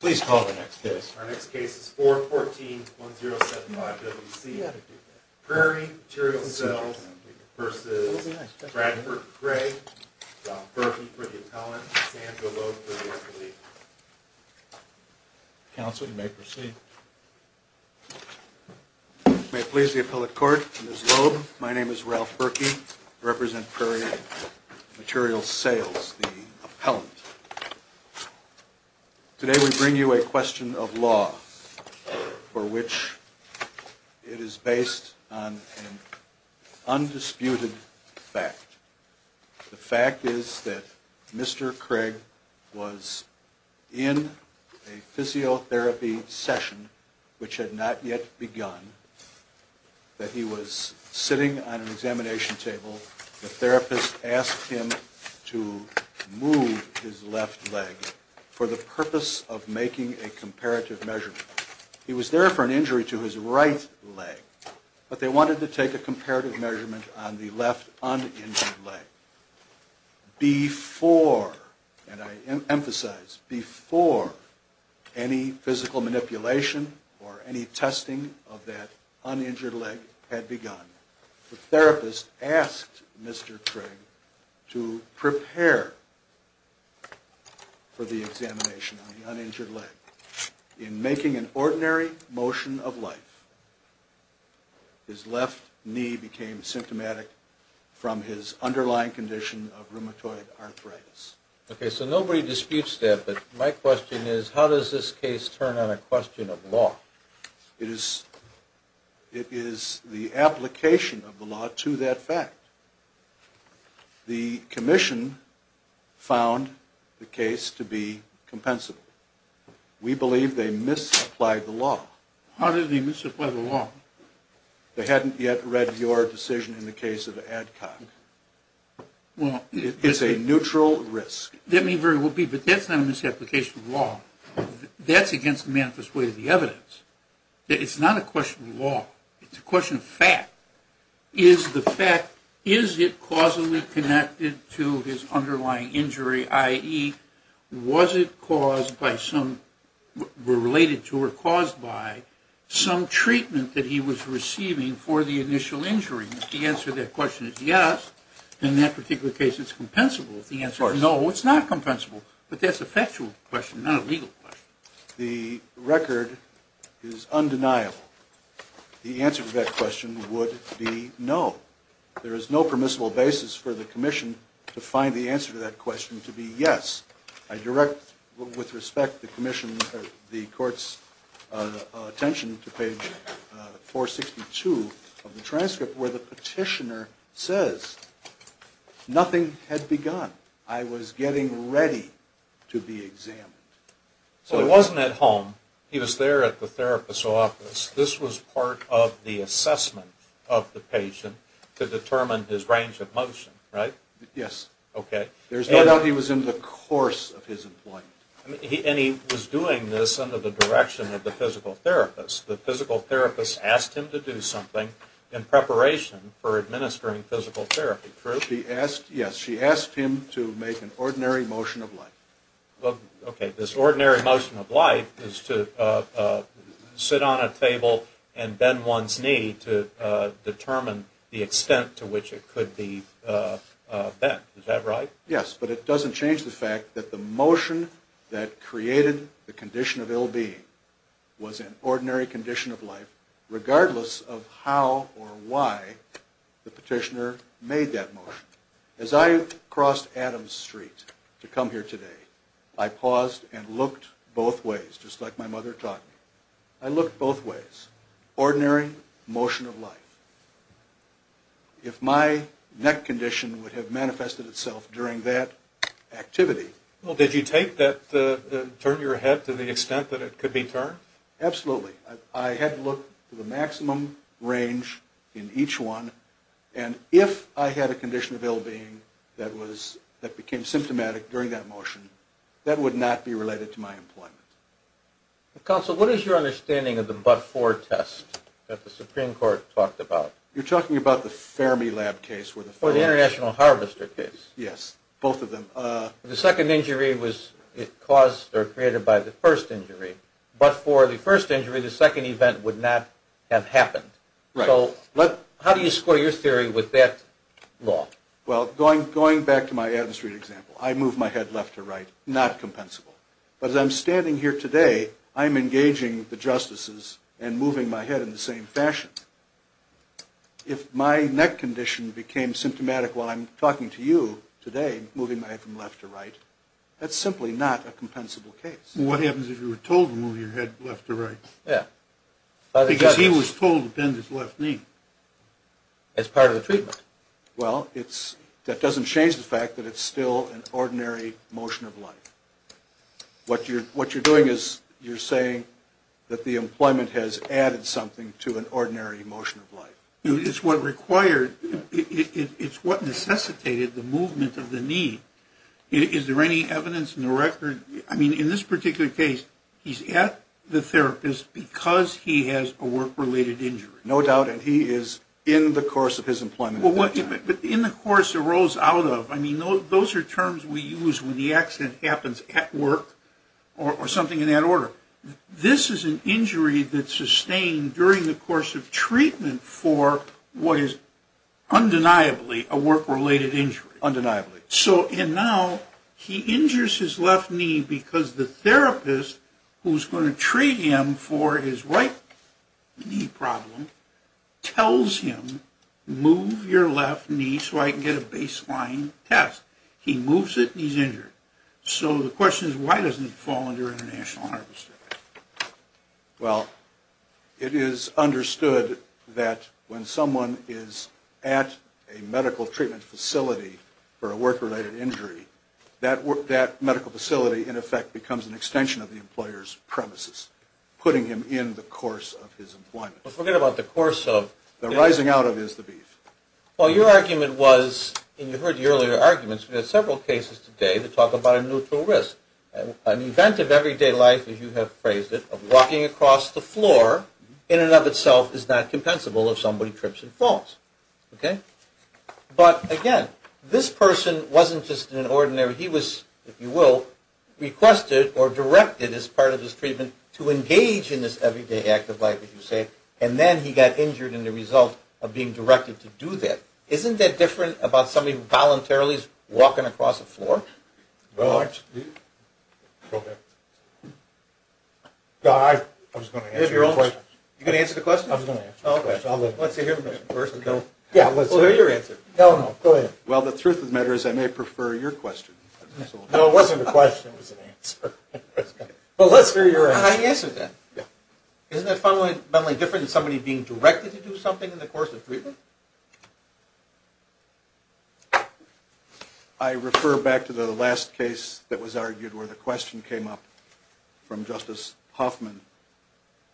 Please call the next case. Our next case is 414-1075-WC. Prairie Material Sales v. Bradford Cray, Ralph Berkey for the appellant, and Bill Loeb for the appellate. Counsel, you may proceed. May it please the appellate court, Ms. Loeb, my name is Ralph Berkey. I represent Prairie Material Sales, the appellant. Today we bring you a question of law for which it is based on an undisputed fact. The fact is that Mr. Craig was in a physiotherapy session which had not yet begun, that he was sitting on an examination table, the therapist asked him to move his left leg for the purpose of making a comparative measurement. He was there for an injury to his right leg, but they wanted to take a comparative measurement on the left uninjured leg before, and I emphasize, before any physical manipulation or any testing of that uninjured leg had begun. The therapist asked Mr. Craig to prepare for the examination on the uninjured leg. In making an ordinary motion of life, his left knee became symptomatic from his underlying condition of rheumatoid arthritis. Okay, so nobody disputes that, but my question is, how does this case turn on a question of law? It is the application of the law to that fact. The commission found the case to be compensable. We believe they misapplied the law. How did they misapply the law? They hadn't yet read your decision in the case of Adcock. It's a neutral risk. That may very well be, but that's not a misapplication of law. That's against the manifest way of the evidence. It's not a question of law. It's a question of fact. Is the fact, is it causally connected to his underlying injury, i.e., was it caused by some, related to or caused by, some treatment that he was receiving for the initial injury? If the answer to that question is yes, then that particular case is compensable. If the answer is no, it's not compensable. But that's a factual question, not a legal question. The record is undeniable. The answer to that question would be no. There is no permissible basis for the commission to find the answer to that question to be yes. I direct, with respect, the commission, the court's attention to page 462 of the transcript where the petitioner says, nothing had begun. I was getting ready to be examined. Well, he wasn't at home. He was there at the therapist's office. This was part of the assessment of the patient to determine his range of motion, right? Yes. Okay. There's no doubt he was in the course of his employment. And he was doing this under the direction of the physical therapist. The physical therapist asked him to do something in preparation for administering physical therapy, correct? Yes. She asked him to make an ordinary motion of life. Okay. This ordinary motion of life is to sit on a table and bend one's knee to determine the extent to which it could be bent. Is that right? Yes. But it doesn't change the fact that the motion that created the condition of ill-being was an ordinary condition of life, regardless of how or why the petitioner made that motion. As I crossed Adams Street to come here today, I paused and looked both ways, just like my mother taught me. I looked both ways. Ordinary motion of life. If my neck condition would have manifested itself during that activity... Well, did you take that, turn your head to the extent that it could be turned? Absolutely. I had to look to the maximum range in each one. And if I had a condition of ill-being that became symptomatic during that motion, that would not be related to my employment. Counsel, what is your understanding of the but-for test that the Supreme Court talked about? You're talking about the Fermilab case where the... Or the International Harvester case. Yes. Both of them. The second injury was caused or created by the first injury. But for the first injury, the second event would not have happened. Right. So how do you score your theory with that law? Well, going back to my Adams Street example, I move my head left or right. Not compensable. But as I'm standing here today, I'm engaging the justices and moving my head in the same fashion. If my neck condition became symptomatic while I'm talking to you today, moving my head from left to right, that's simply not a compensable case. What happens if you were told to move your head left to right? Yeah. Because he was told to bend his left knee. As part of the treatment. Well, that doesn't change the fact that it's still an ordinary motion of life. What you're doing is you're saying that the employment has added something to an ordinary motion of life. It's what required... It's what necessitated the movement of the knee. Is there any evidence in the record... I mean, in this particular case, he's at the therapist because he has a work-related injury. No doubt. And he is in the course of his employment. But in the course it rolls out of. I mean, those are terms we use when the accident happens at work or something in that order. This is an injury that's sustained during the course of treatment for what is undeniably a work-related injury. Undeniably. So, and now, he injures his left knee because the therapist, who's going to treat him for his right knee problem, tells him, move your left knee so I can get a baseline test. He moves it and he's injured. So the question is, why doesn't it fall under international harvester? Well, it is understood that when someone is at a medical treatment facility for a work-related injury, that medical facility, in effect, becomes an extension of the employer's premises, putting him in the course of his employment. But forget about the course of... The rising out of is the beef. Well, your argument was, and you heard the earlier arguments, we had several cases today that talk about a neutral risk. An event of everyday life, as you have phrased it, of walking across the floor, in and of itself, is not compensable if somebody trips and falls. Okay? But, again, this person wasn't just an ordinary... He was, if you will, requested or directed as part of his treatment to engage in this everyday act of life, as you say, and then he got injured in the result of being directed to do that. Isn't that different about somebody voluntarily walking across the floor? Well, I... I was going to answer the question. You're going to answer the question? I was going to answer the question. Okay. Let's hear your answer. No, no. Go ahead. Well, the truth of the matter is I may prefer your question. No, it wasn't a question. It was an answer. Well, let's hear your answer. I answered that. Yeah. Isn't that fundamentally different than somebody being directed to do something in the course of treatment? I refer back to the last case that was argued where the question came up from Justice Hoffman.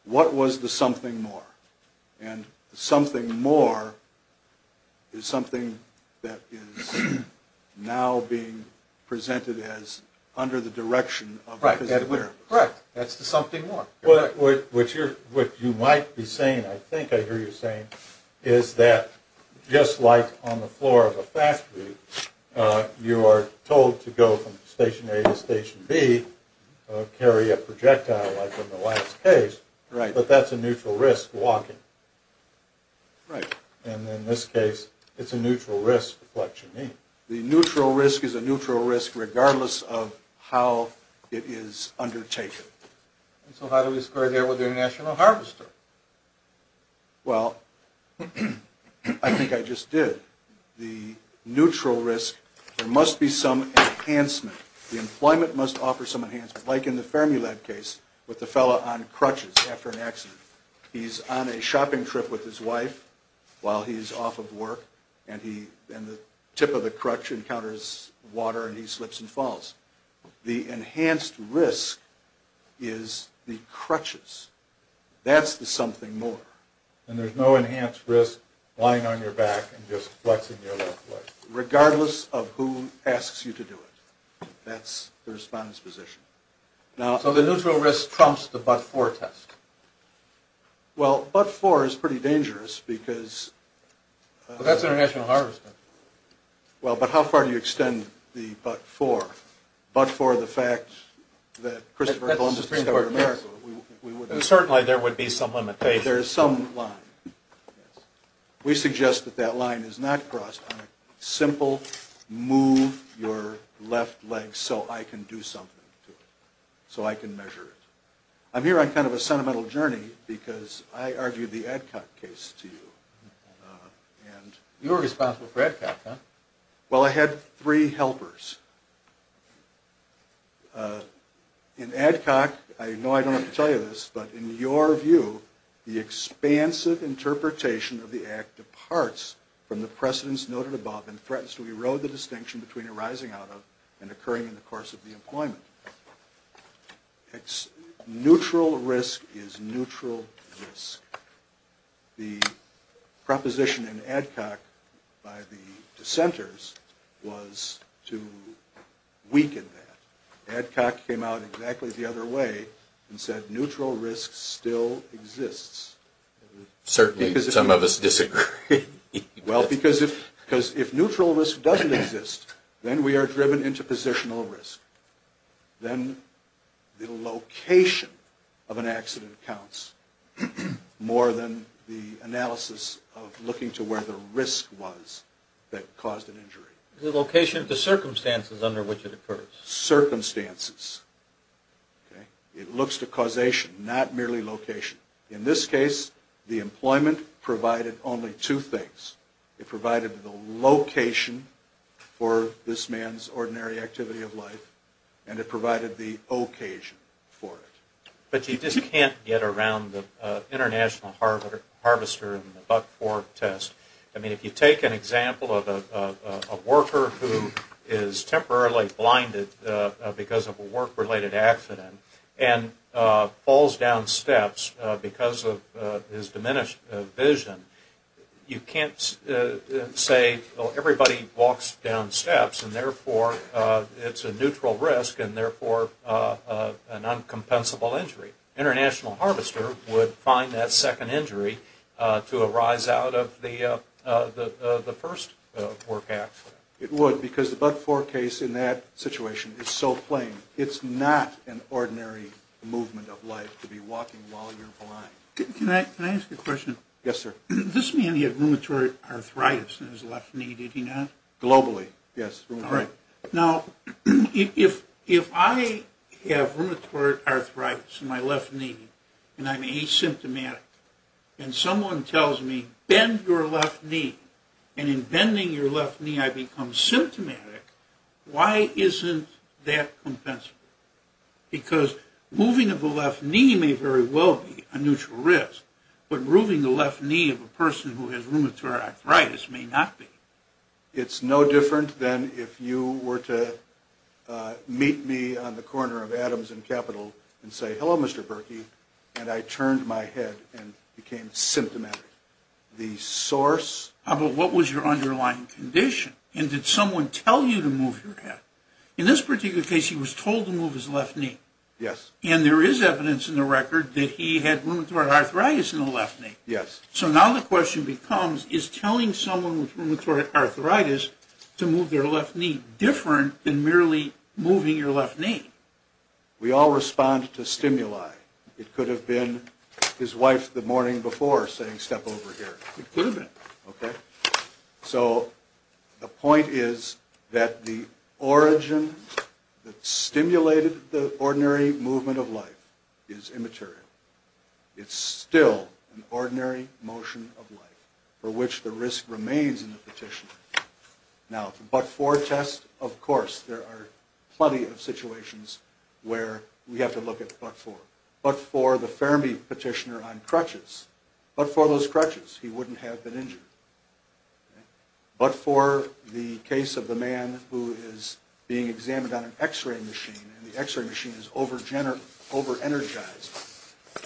What was the something more? And the something more is something that is now being presented as under the direction of a physiotherapist. Right. Correct. That's the something more. What you might be saying, I think I hear you saying, is that just like on the floor of a factory, you are told to go from station A to station B, carry a projectile like in the last case. Right. But that's a neutral risk, walking. Right. And in this case, it's a neutral risk, what you mean. The neutral risk is a neutral risk regardless of how it is undertaken. So how do we square that with the international harvester? Well, I think I just did. The neutral risk, there must be some enhancement. The employment must offer some enhancement, like in the Fermilab case with the fellow on crutches after an accident. He's on a shopping trip with his wife while he's off of work, and the tip of the crutch encounters water and he slips and falls. The enhanced risk is the crutches. That's the something more. And there's no enhanced risk lying on your back and just flexing your left leg. Regardless of who asks you to do it. That's the respondent's position. So the neutral risk trumps the but-for test. Well, but-for is pretty dangerous because... Well, that's international harvester. Well, but how far do you extend the but-for? But-for the fact that Christopher Columbus discovered America. Certainly there would be some limitation. There is some line. We suggest that that line is not crossed on a simple move your left leg so I can do something to it, so I can measure it. I'm here on kind of a sentimental journey because I argued the Adcock case to you. You were responsible for Adcock, huh? Well, I had three helpers. In Adcock, I know I don't have to tell you this, but in your view, the expansive interpretation of the act departs from the precedence noted above and threatens to erode the distinction between arising out of and occurring in the course of the employment. Neutral risk is neutral risk. The proposition in Adcock by the dissenters was to weaken that. Adcock came out exactly the other way and said neutral risk still exists. Certainly some of us disagree. Well, because if neutral risk doesn't exist, then we are driven into positional risk. Then the location of an accident counts more than the analysis of looking to where the risk was that caused an injury. The location of the circumstances under which it occurs. Circumstances. It looks to causation, not merely location. In this case, the employment provided only two things. It provided the location for this man's ordinary activity of life, and it provided the occasion for it. But you just can't get around the international harvester and the buck-four test. I mean, if you take an example of a worker who is temporarily blinded because of a work-related accident and falls down steps because of his diminished vision, you can't say everybody walks down steps and therefore it's a neutral risk and therefore an uncompensable injury. International harvester would find that second injury to arise out of the first work accident. It would because the buck-four case in that situation is so plain. It's not an ordinary movement of life to be walking while you're blind. Can I ask a question? Yes, sir. This man had rheumatoid arthritis in his left knee, did he not? Globally, yes. All right. Now, if I have rheumatoid arthritis in my left knee and I'm asymptomatic and someone tells me, and in bending your left knee I become symptomatic, why isn't that compensable? Because moving of the left knee may very well be a neutral risk, but moving the left knee of a person who has rheumatoid arthritis may not be. It's no different than if you were to meet me on the corner of Adams and Capitol and say, How about what was your underlying condition? And did someone tell you to move your head? In this particular case, he was told to move his left knee. Yes. And there is evidence in the record that he had rheumatoid arthritis in the left knee. Yes. So now the question becomes, is telling someone with rheumatoid arthritis to move their left knee different than merely moving your left knee? We all respond to stimuli. It could have been his wife the morning before saying, step over here. It could have been. Okay. So the point is that the origin that stimulated the ordinary movement of life is immaterial. It's still an ordinary motion of life for which the risk remains in the petitioner. Now, the but-for test, of course, there are plenty of situations where we have to look at but-for. But-for the Fermi petitioner on crutches. But-for those crutches, he wouldn't have been injured. But-for the case of the man who is being examined on an x-ray machine, and the x-ray machine is over-energized,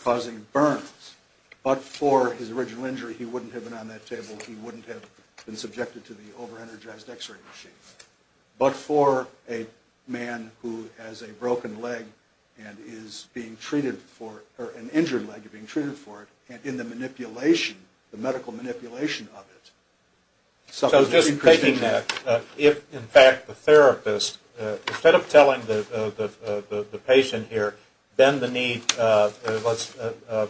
causing burns. But-for his original injury, he wouldn't have been on that table. He wouldn't have been subjected to the over-energized x-ray machine. But-for a man who has a broken leg and is being treated for it, or an injured leg being treated for it, and in the manipulation, the medical manipulation of it. So just taking that, if, in fact, the therapist, instead of telling the patient here, bend the knee, let's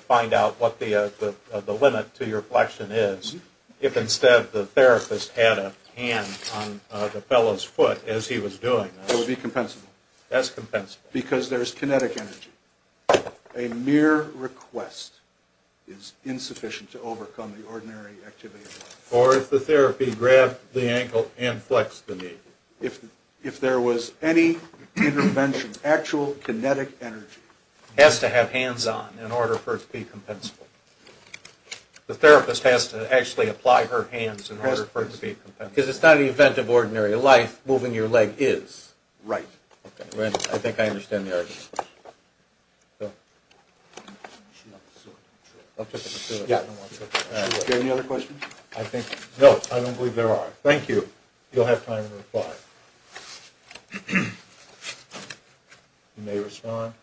find out what the limit to your flexion is, if instead the therapist had a hand on the fellow's foot as he was doing this. It would be compensable. That's compensable. Because there's kinetic energy. A mere request is insufficient to overcome the ordinary activity. Or if the therapy grabbed the ankle and flexed the knee. If there was any intervention, actual kinetic energy. Has to have hands on in order for it to be compensable. The therapist has to actually apply her hands in order for it to be compensable. Because it's not an event of ordinary life. Moving your leg is. Right. Okay. I think I understand the argument. Do you have any other questions? I think-no, I don't believe there are. Thank you. You'll have time to reply. You may respond.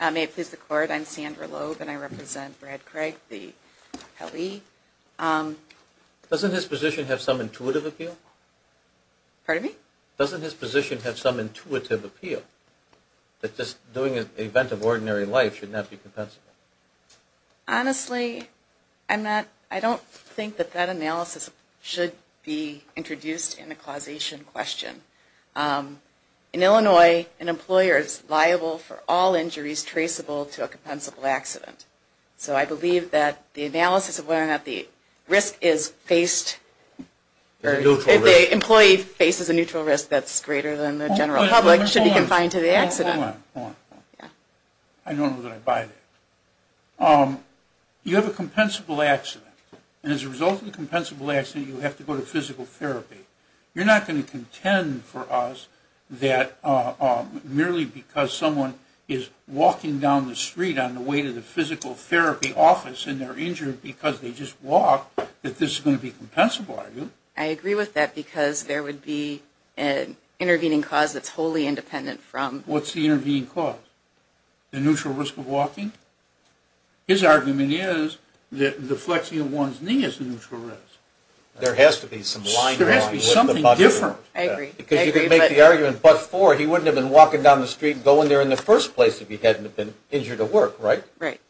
May it please the court. I'm Sandra Loeb and I represent Brad Craig, the Pele. Doesn't his position have some intuitive appeal? Pardon me? Doesn't his position have some intuitive appeal? That just doing an event of ordinary life should not be compensable? Honestly, I don't think that that analysis should be introduced in the causation question. In Illinois, an employer is liable for all injuries traceable to a compensable accident. So I believe that the analysis of whether or not the employee faces a neutral risk that's greater than the general public should be confined to the accident. Hold on. I don't know that I buy that. You have a compensable accident. And as a result of the compensable accident, you have to go to physical therapy. You're not going to contend for us that merely because someone is walking down the street on the way to the physical therapy office and they're injured because they just walked that this is going to be compensable, are you? I agree with that because there would be an intervening cause that's wholly independent from- What's the intervening cause? The neutral risk of walking? His argument is that the flexing of one's knee is a neutral risk. There has to be some line- There has to be something different. I agree. Because you can make the argument, but for, he wouldn't have been walking down the street and going there in the first place if he hadn't been injured at work, right? Right.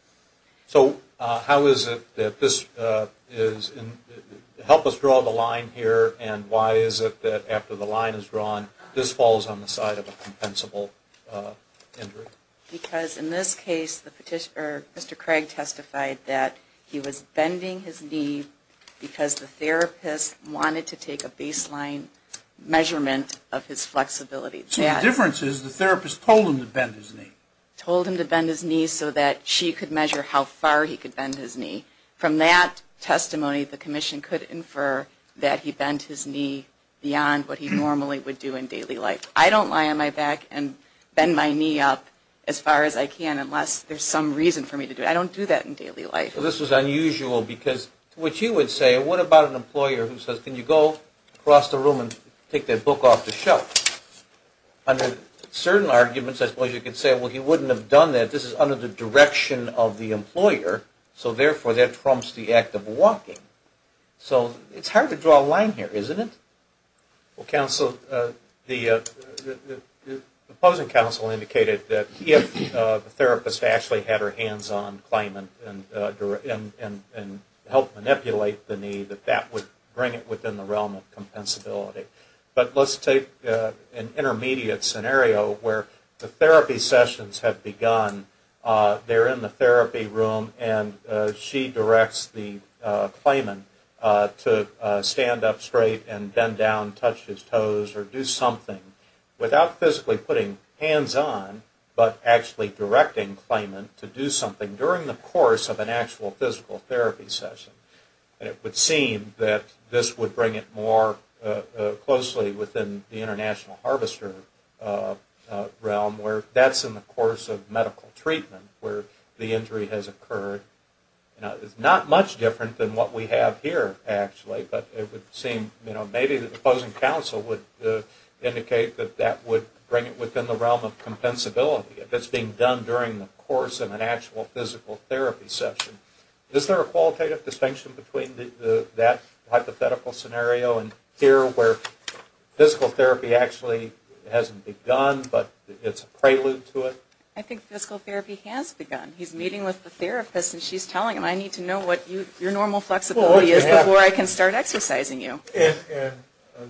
So how is it that this is, help us draw the line here and why is it that after the line is drawn, this falls on the side of a compensable injury? Because in this case, Mr. Craig testified that he was bending his knee because the therapist wanted to take a baseline measurement of his flexibility. So the difference is the therapist told him to bend his knee? Told him to bend his knee so that she could measure how far he could bend his knee. From that testimony, the commission could infer that he bent his knee beyond what he normally would do in daily life. I don't lie on my back and bend my knee up as far as I can unless there's some reason for me to do it. I don't do that in daily life. So this was unusual because to what you would say, what about an employer who says, can you go across the room and take that book off the shelf? Under certain arguments, I suppose you could say, well, he wouldn't have done that. This is under the direction of the employer, so therefore that trumps the act of walking. So it's hard to draw a line here, isn't it? Well, counsel, the opposing counsel indicated that if the therapist actually had her hands on Clayman and helped manipulate the knee, that that would bring it within the realm of compensability. But let's take an intermediate scenario where the therapy sessions have begun. They're in the therapy room and she directs the Clayman to stand up straight and bend down, touch his toes or do something without physically putting hands on, but actually directing Clayman to do something during the course of an actual physical therapy session. And it would seem that this would bring it more closely within the international harvester realm where that's in the course of medical treatment where the injury has occurred. It's not much different than what we have here, actually, but it would seem, you know, maybe the opposing counsel would indicate that that would bring it within the realm of compensability if it's being done during the course of an actual physical therapy session. Is there a qualitative distinction between that hypothetical scenario and here where physical therapy actually hasn't begun but it's a prelude to it? I think physical therapy has begun. He's meeting with the therapist and she's telling him, I need to know what your normal flexibility is before I can start exercising you. In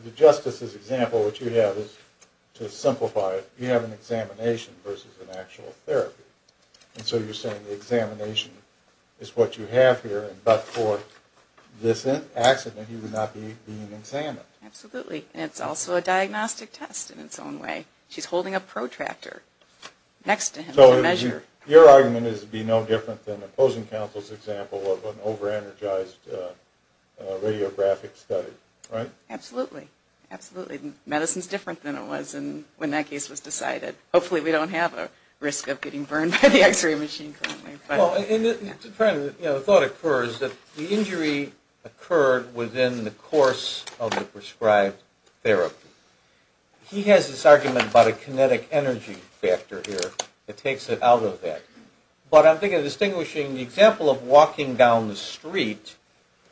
the justice's example, what you have is, to simplify it, you have an examination versus an actual therapy. And so you're saying the examination is what you have here, but for this accident he would not be being examined. Absolutely. And it's also a diagnostic test in its own way. She's holding a protractor next to him as a measure. So your argument is it would be no different than the opposing counsel's example of an over-energized radiographic study, right? Absolutely. Absolutely. Medicine is different than it was when that case was decided. Hopefully we don't have a risk of getting burned by the x-ray machine. The thought occurs that the injury occurred within the course of the prescribed therapy. He has this argument about a kinetic energy factor here that takes it out of that. But I'm thinking of distinguishing the example of walking down the street.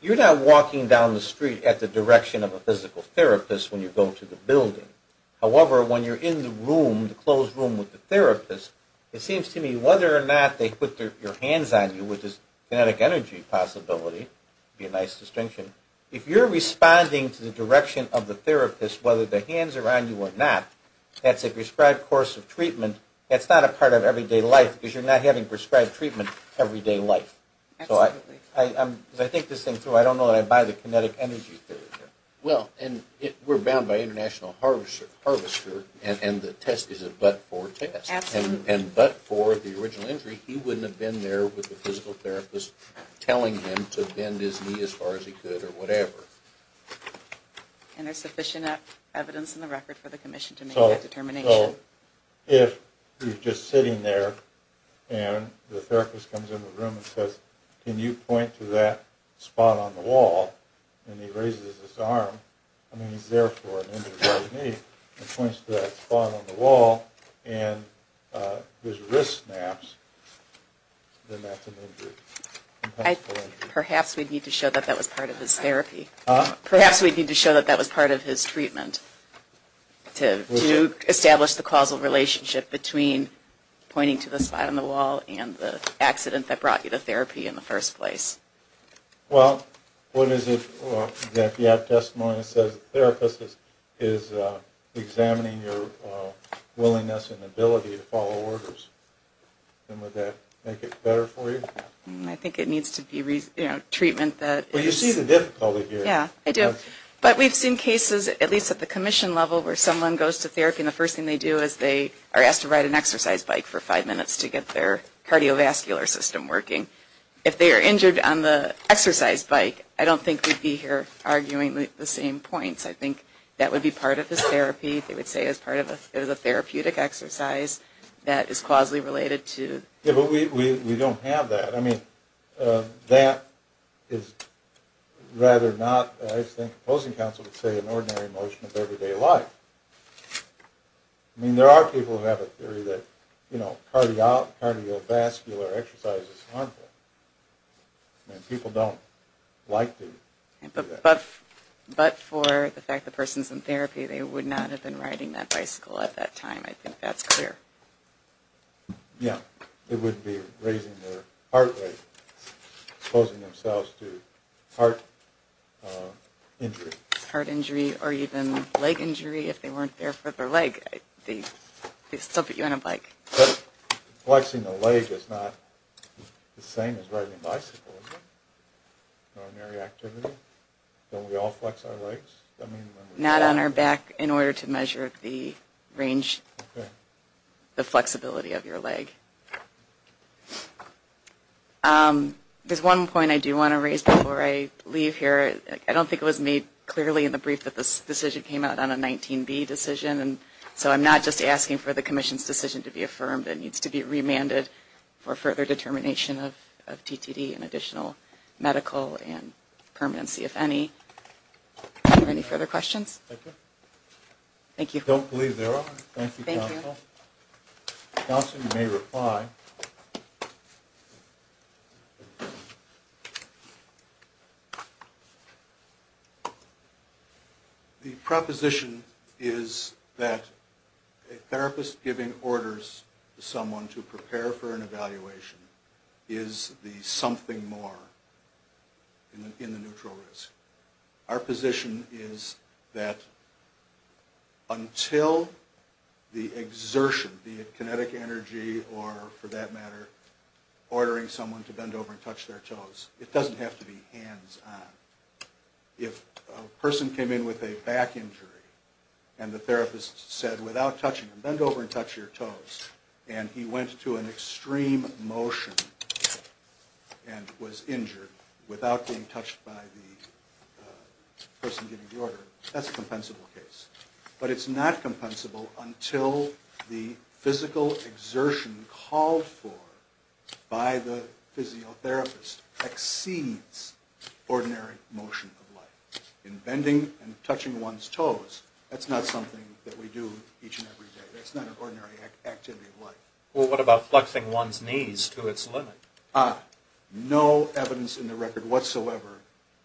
You're not walking down the street at the direction of a physical therapist when you go to the building. However, when you're in the room, the closed room with the therapist, it seems to me whether or not they put their hands on you with this kinetic energy possibility would be a nice distinction. If you're responding to the direction of the therapist, whether the hands are on you or not, that's a prescribed course of treatment. That's not a part of everyday life because you're not having prescribed treatment everyday life. Absolutely. As I think this thing through, I don't know that I buy the kinetic energy theory here. Well, and we're bound by international harvester, and the test is a but-for test. Absolutely. And but-for the original injury, he wouldn't have been there with the physical therapist telling him to bend his knee as far as he could or whatever. And there's sufficient evidence in the record for the commission to make that determination. So if you're just sitting there and the therapist comes in the room and says, can you point to that spot on the wall, and he raises his arm, I mean he's there for an injured right knee, and points to that spot on the wall, and his wrist snaps, then that's an injury. Perhaps we need to show that that was part of his therapy. Perhaps we need to show that that was part of his treatment to establish the causal relationship between pointing to the spot on the wall and the accident that brought you to therapy in the first place. Well, what if you have testimony that says the therapist is examining your willingness and ability to follow orders? Would that make it better for you? I think it needs to be treatment that... Well, you see the difficulty here. Yeah, I do. But we've seen cases, at least at the commission level, where someone goes to therapy and the first thing they do is they are asked to ride an exercise bike for five minutes to get their cardiovascular system working. If they are injured on the exercise bike, I don't think we'd be here arguing the same points. I think that would be part of his therapy. They would say it's part of a therapeutic exercise that is causally related to... Yeah, but we don't have that. I mean, that is rather not, I think the opposing counsel would say, an ordinary motion of everyday life. I mean, there are people who have a theory that, you know, cardiovascular exercise is harmful. And people don't like to do that. But for the fact the person is in therapy, they would not have been riding that bicycle at that time. I think that's clear. Yeah. It would be raising their heart rate, exposing themselves to heart injury. Or even leg injury if they weren't there for their leg. They'd still put you on a bike. Flexing the leg is not the same as riding a bicycle, is it? Ordinary activity? Don't we all flex our legs? Not on our back in order to measure the range, the flexibility of your leg. There's one point I do want to raise before I leave here. I don't think it was made clearly in the brief that this decision came out on a 19B decision. So I'm not just asking for the commission's decision to be affirmed. It needs to be remanded for further determination of TTD and additional medical and permanency, if any. Are there any further questions? Thank you. Thank you. I don't believe there are. Thank you, counsel. Thank you. Counsel, you may reply. The proposition is that a therapist giving orders to someone to prepare for an evaluation is the something more in the neutral risk. Our position is that until the exertion, be it kinetic energy or, for that matter, ordering someone to bend over and touch their toes, it doesn't have to be hands-on. If a person came in with a back injury and the therapist said, without touching them, bend over and touch your toes, and he went to an person giving the order, that's a compensable case. But it's not compensable until the physical exertion called for by the physiotherapist exceeds ordinary motion of life. In bending and touching one's toes, that's not something that we do each and every day. That's not an ordinary activity of life. Well, what about flexing one's knees to its limit? No evidence in the record whatsoever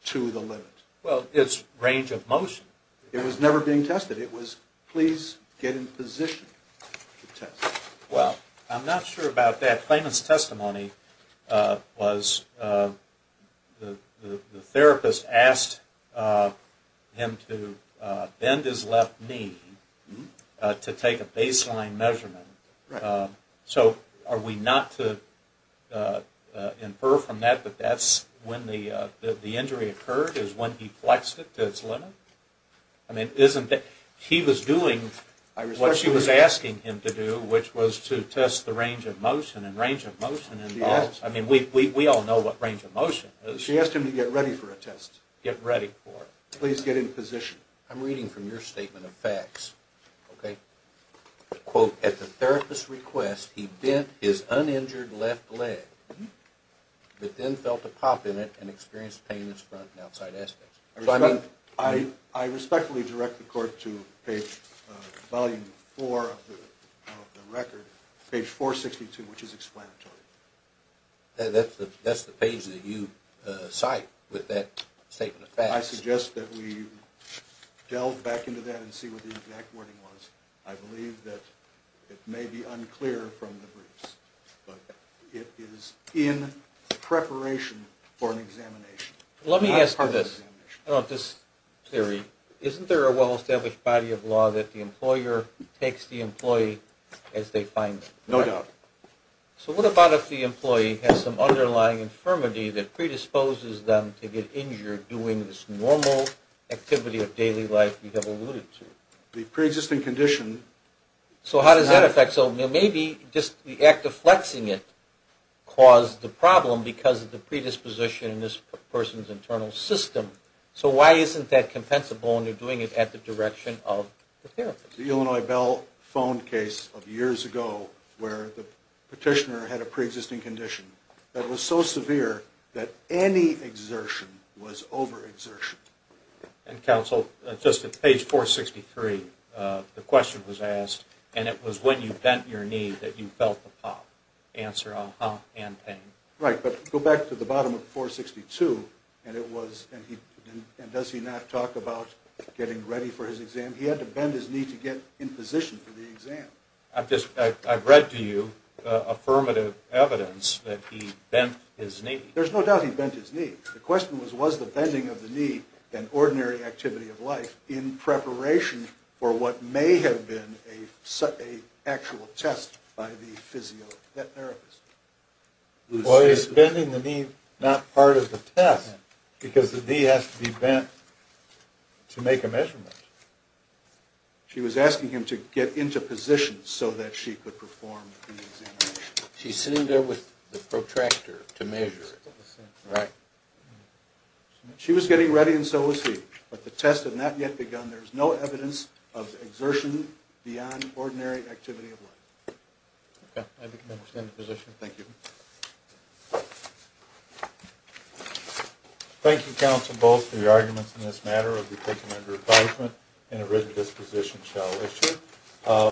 to the limit. Well, it's range of motion. It was never being tested. It was, please get in position to test. Well, I'm not sure about that. Clayman's testimony was the therapist asked him to bend his left knee to take a baseline measurement. So are we not to infer from that that that's when the injury occurred is when he flexed it to its limit? I mean, he was doing what she was asking him to do, which was to test the range of motion, and range of motion involves, I mean, we all know what range of motion is. She asked him to get ready for a test. Get ready for it. Please get in position. I'm reading from your statement of facts, okay? Quote, at the therapist's request, he bent his uninjured left leg, but then felt a pop in it and experienced pain in its front and outside aspects. I respectfully direct the court to page volume four of the record, page 462, which is explanatory. That's the page that you cite with that statement of facts. I suggest that we delve back into that and see what the exact wording was. I believe that it may be unclear from the briefs, but it is in preparation for an examination. Let me ask you this about this theory. Isn't there a well-established body of law that the employer takes the employee as they find them? No doubt. So what about if the employee has some underlying infirmity that predisposes them to get injured doing this normal activity of daily life you have alluded to? The preexisting condition. So how does that affect? So maybe just the act of flexing it caused the problem because of the predisposition in this person's internal system. So why isn't that compensable when you're doing it at the direction of the therapist? The Illinois Bell phone case of years ago where the petitioner had a knee that was so severe that any exertion was overexertion. And, counsel, just at page 463 the question was asked, and it was when you bent your knee that you felt the pop. Answer, uh-huh, and pain. Right. But go back to the bottom of 462, and does he not talk about getting ready for his exam? He had to bend his knee to get in position for the exam. I've read to you affirmative evidence that he bent his knee. There's no doubt he bent his knee. The question was, was the bending of the knee an ordinary activity of life in preparation for what may have been an actual test by the physiotherapist? Well, is bending the knee not part of the test because the knee has to be bent to make a measurement? She was asking him to get into position so that she could perform the examination. She's sitting there with the protractor to measure it. Right. She was getting ready, and so was he. But the test had not yet begun. There's no evidence of exertion beyond ordinary activity of life. Okay. I understand the position. Thank you. Thank you, counsel, both for your arguments in this matter. It will be taken under advisement, and a written disposition shall issue.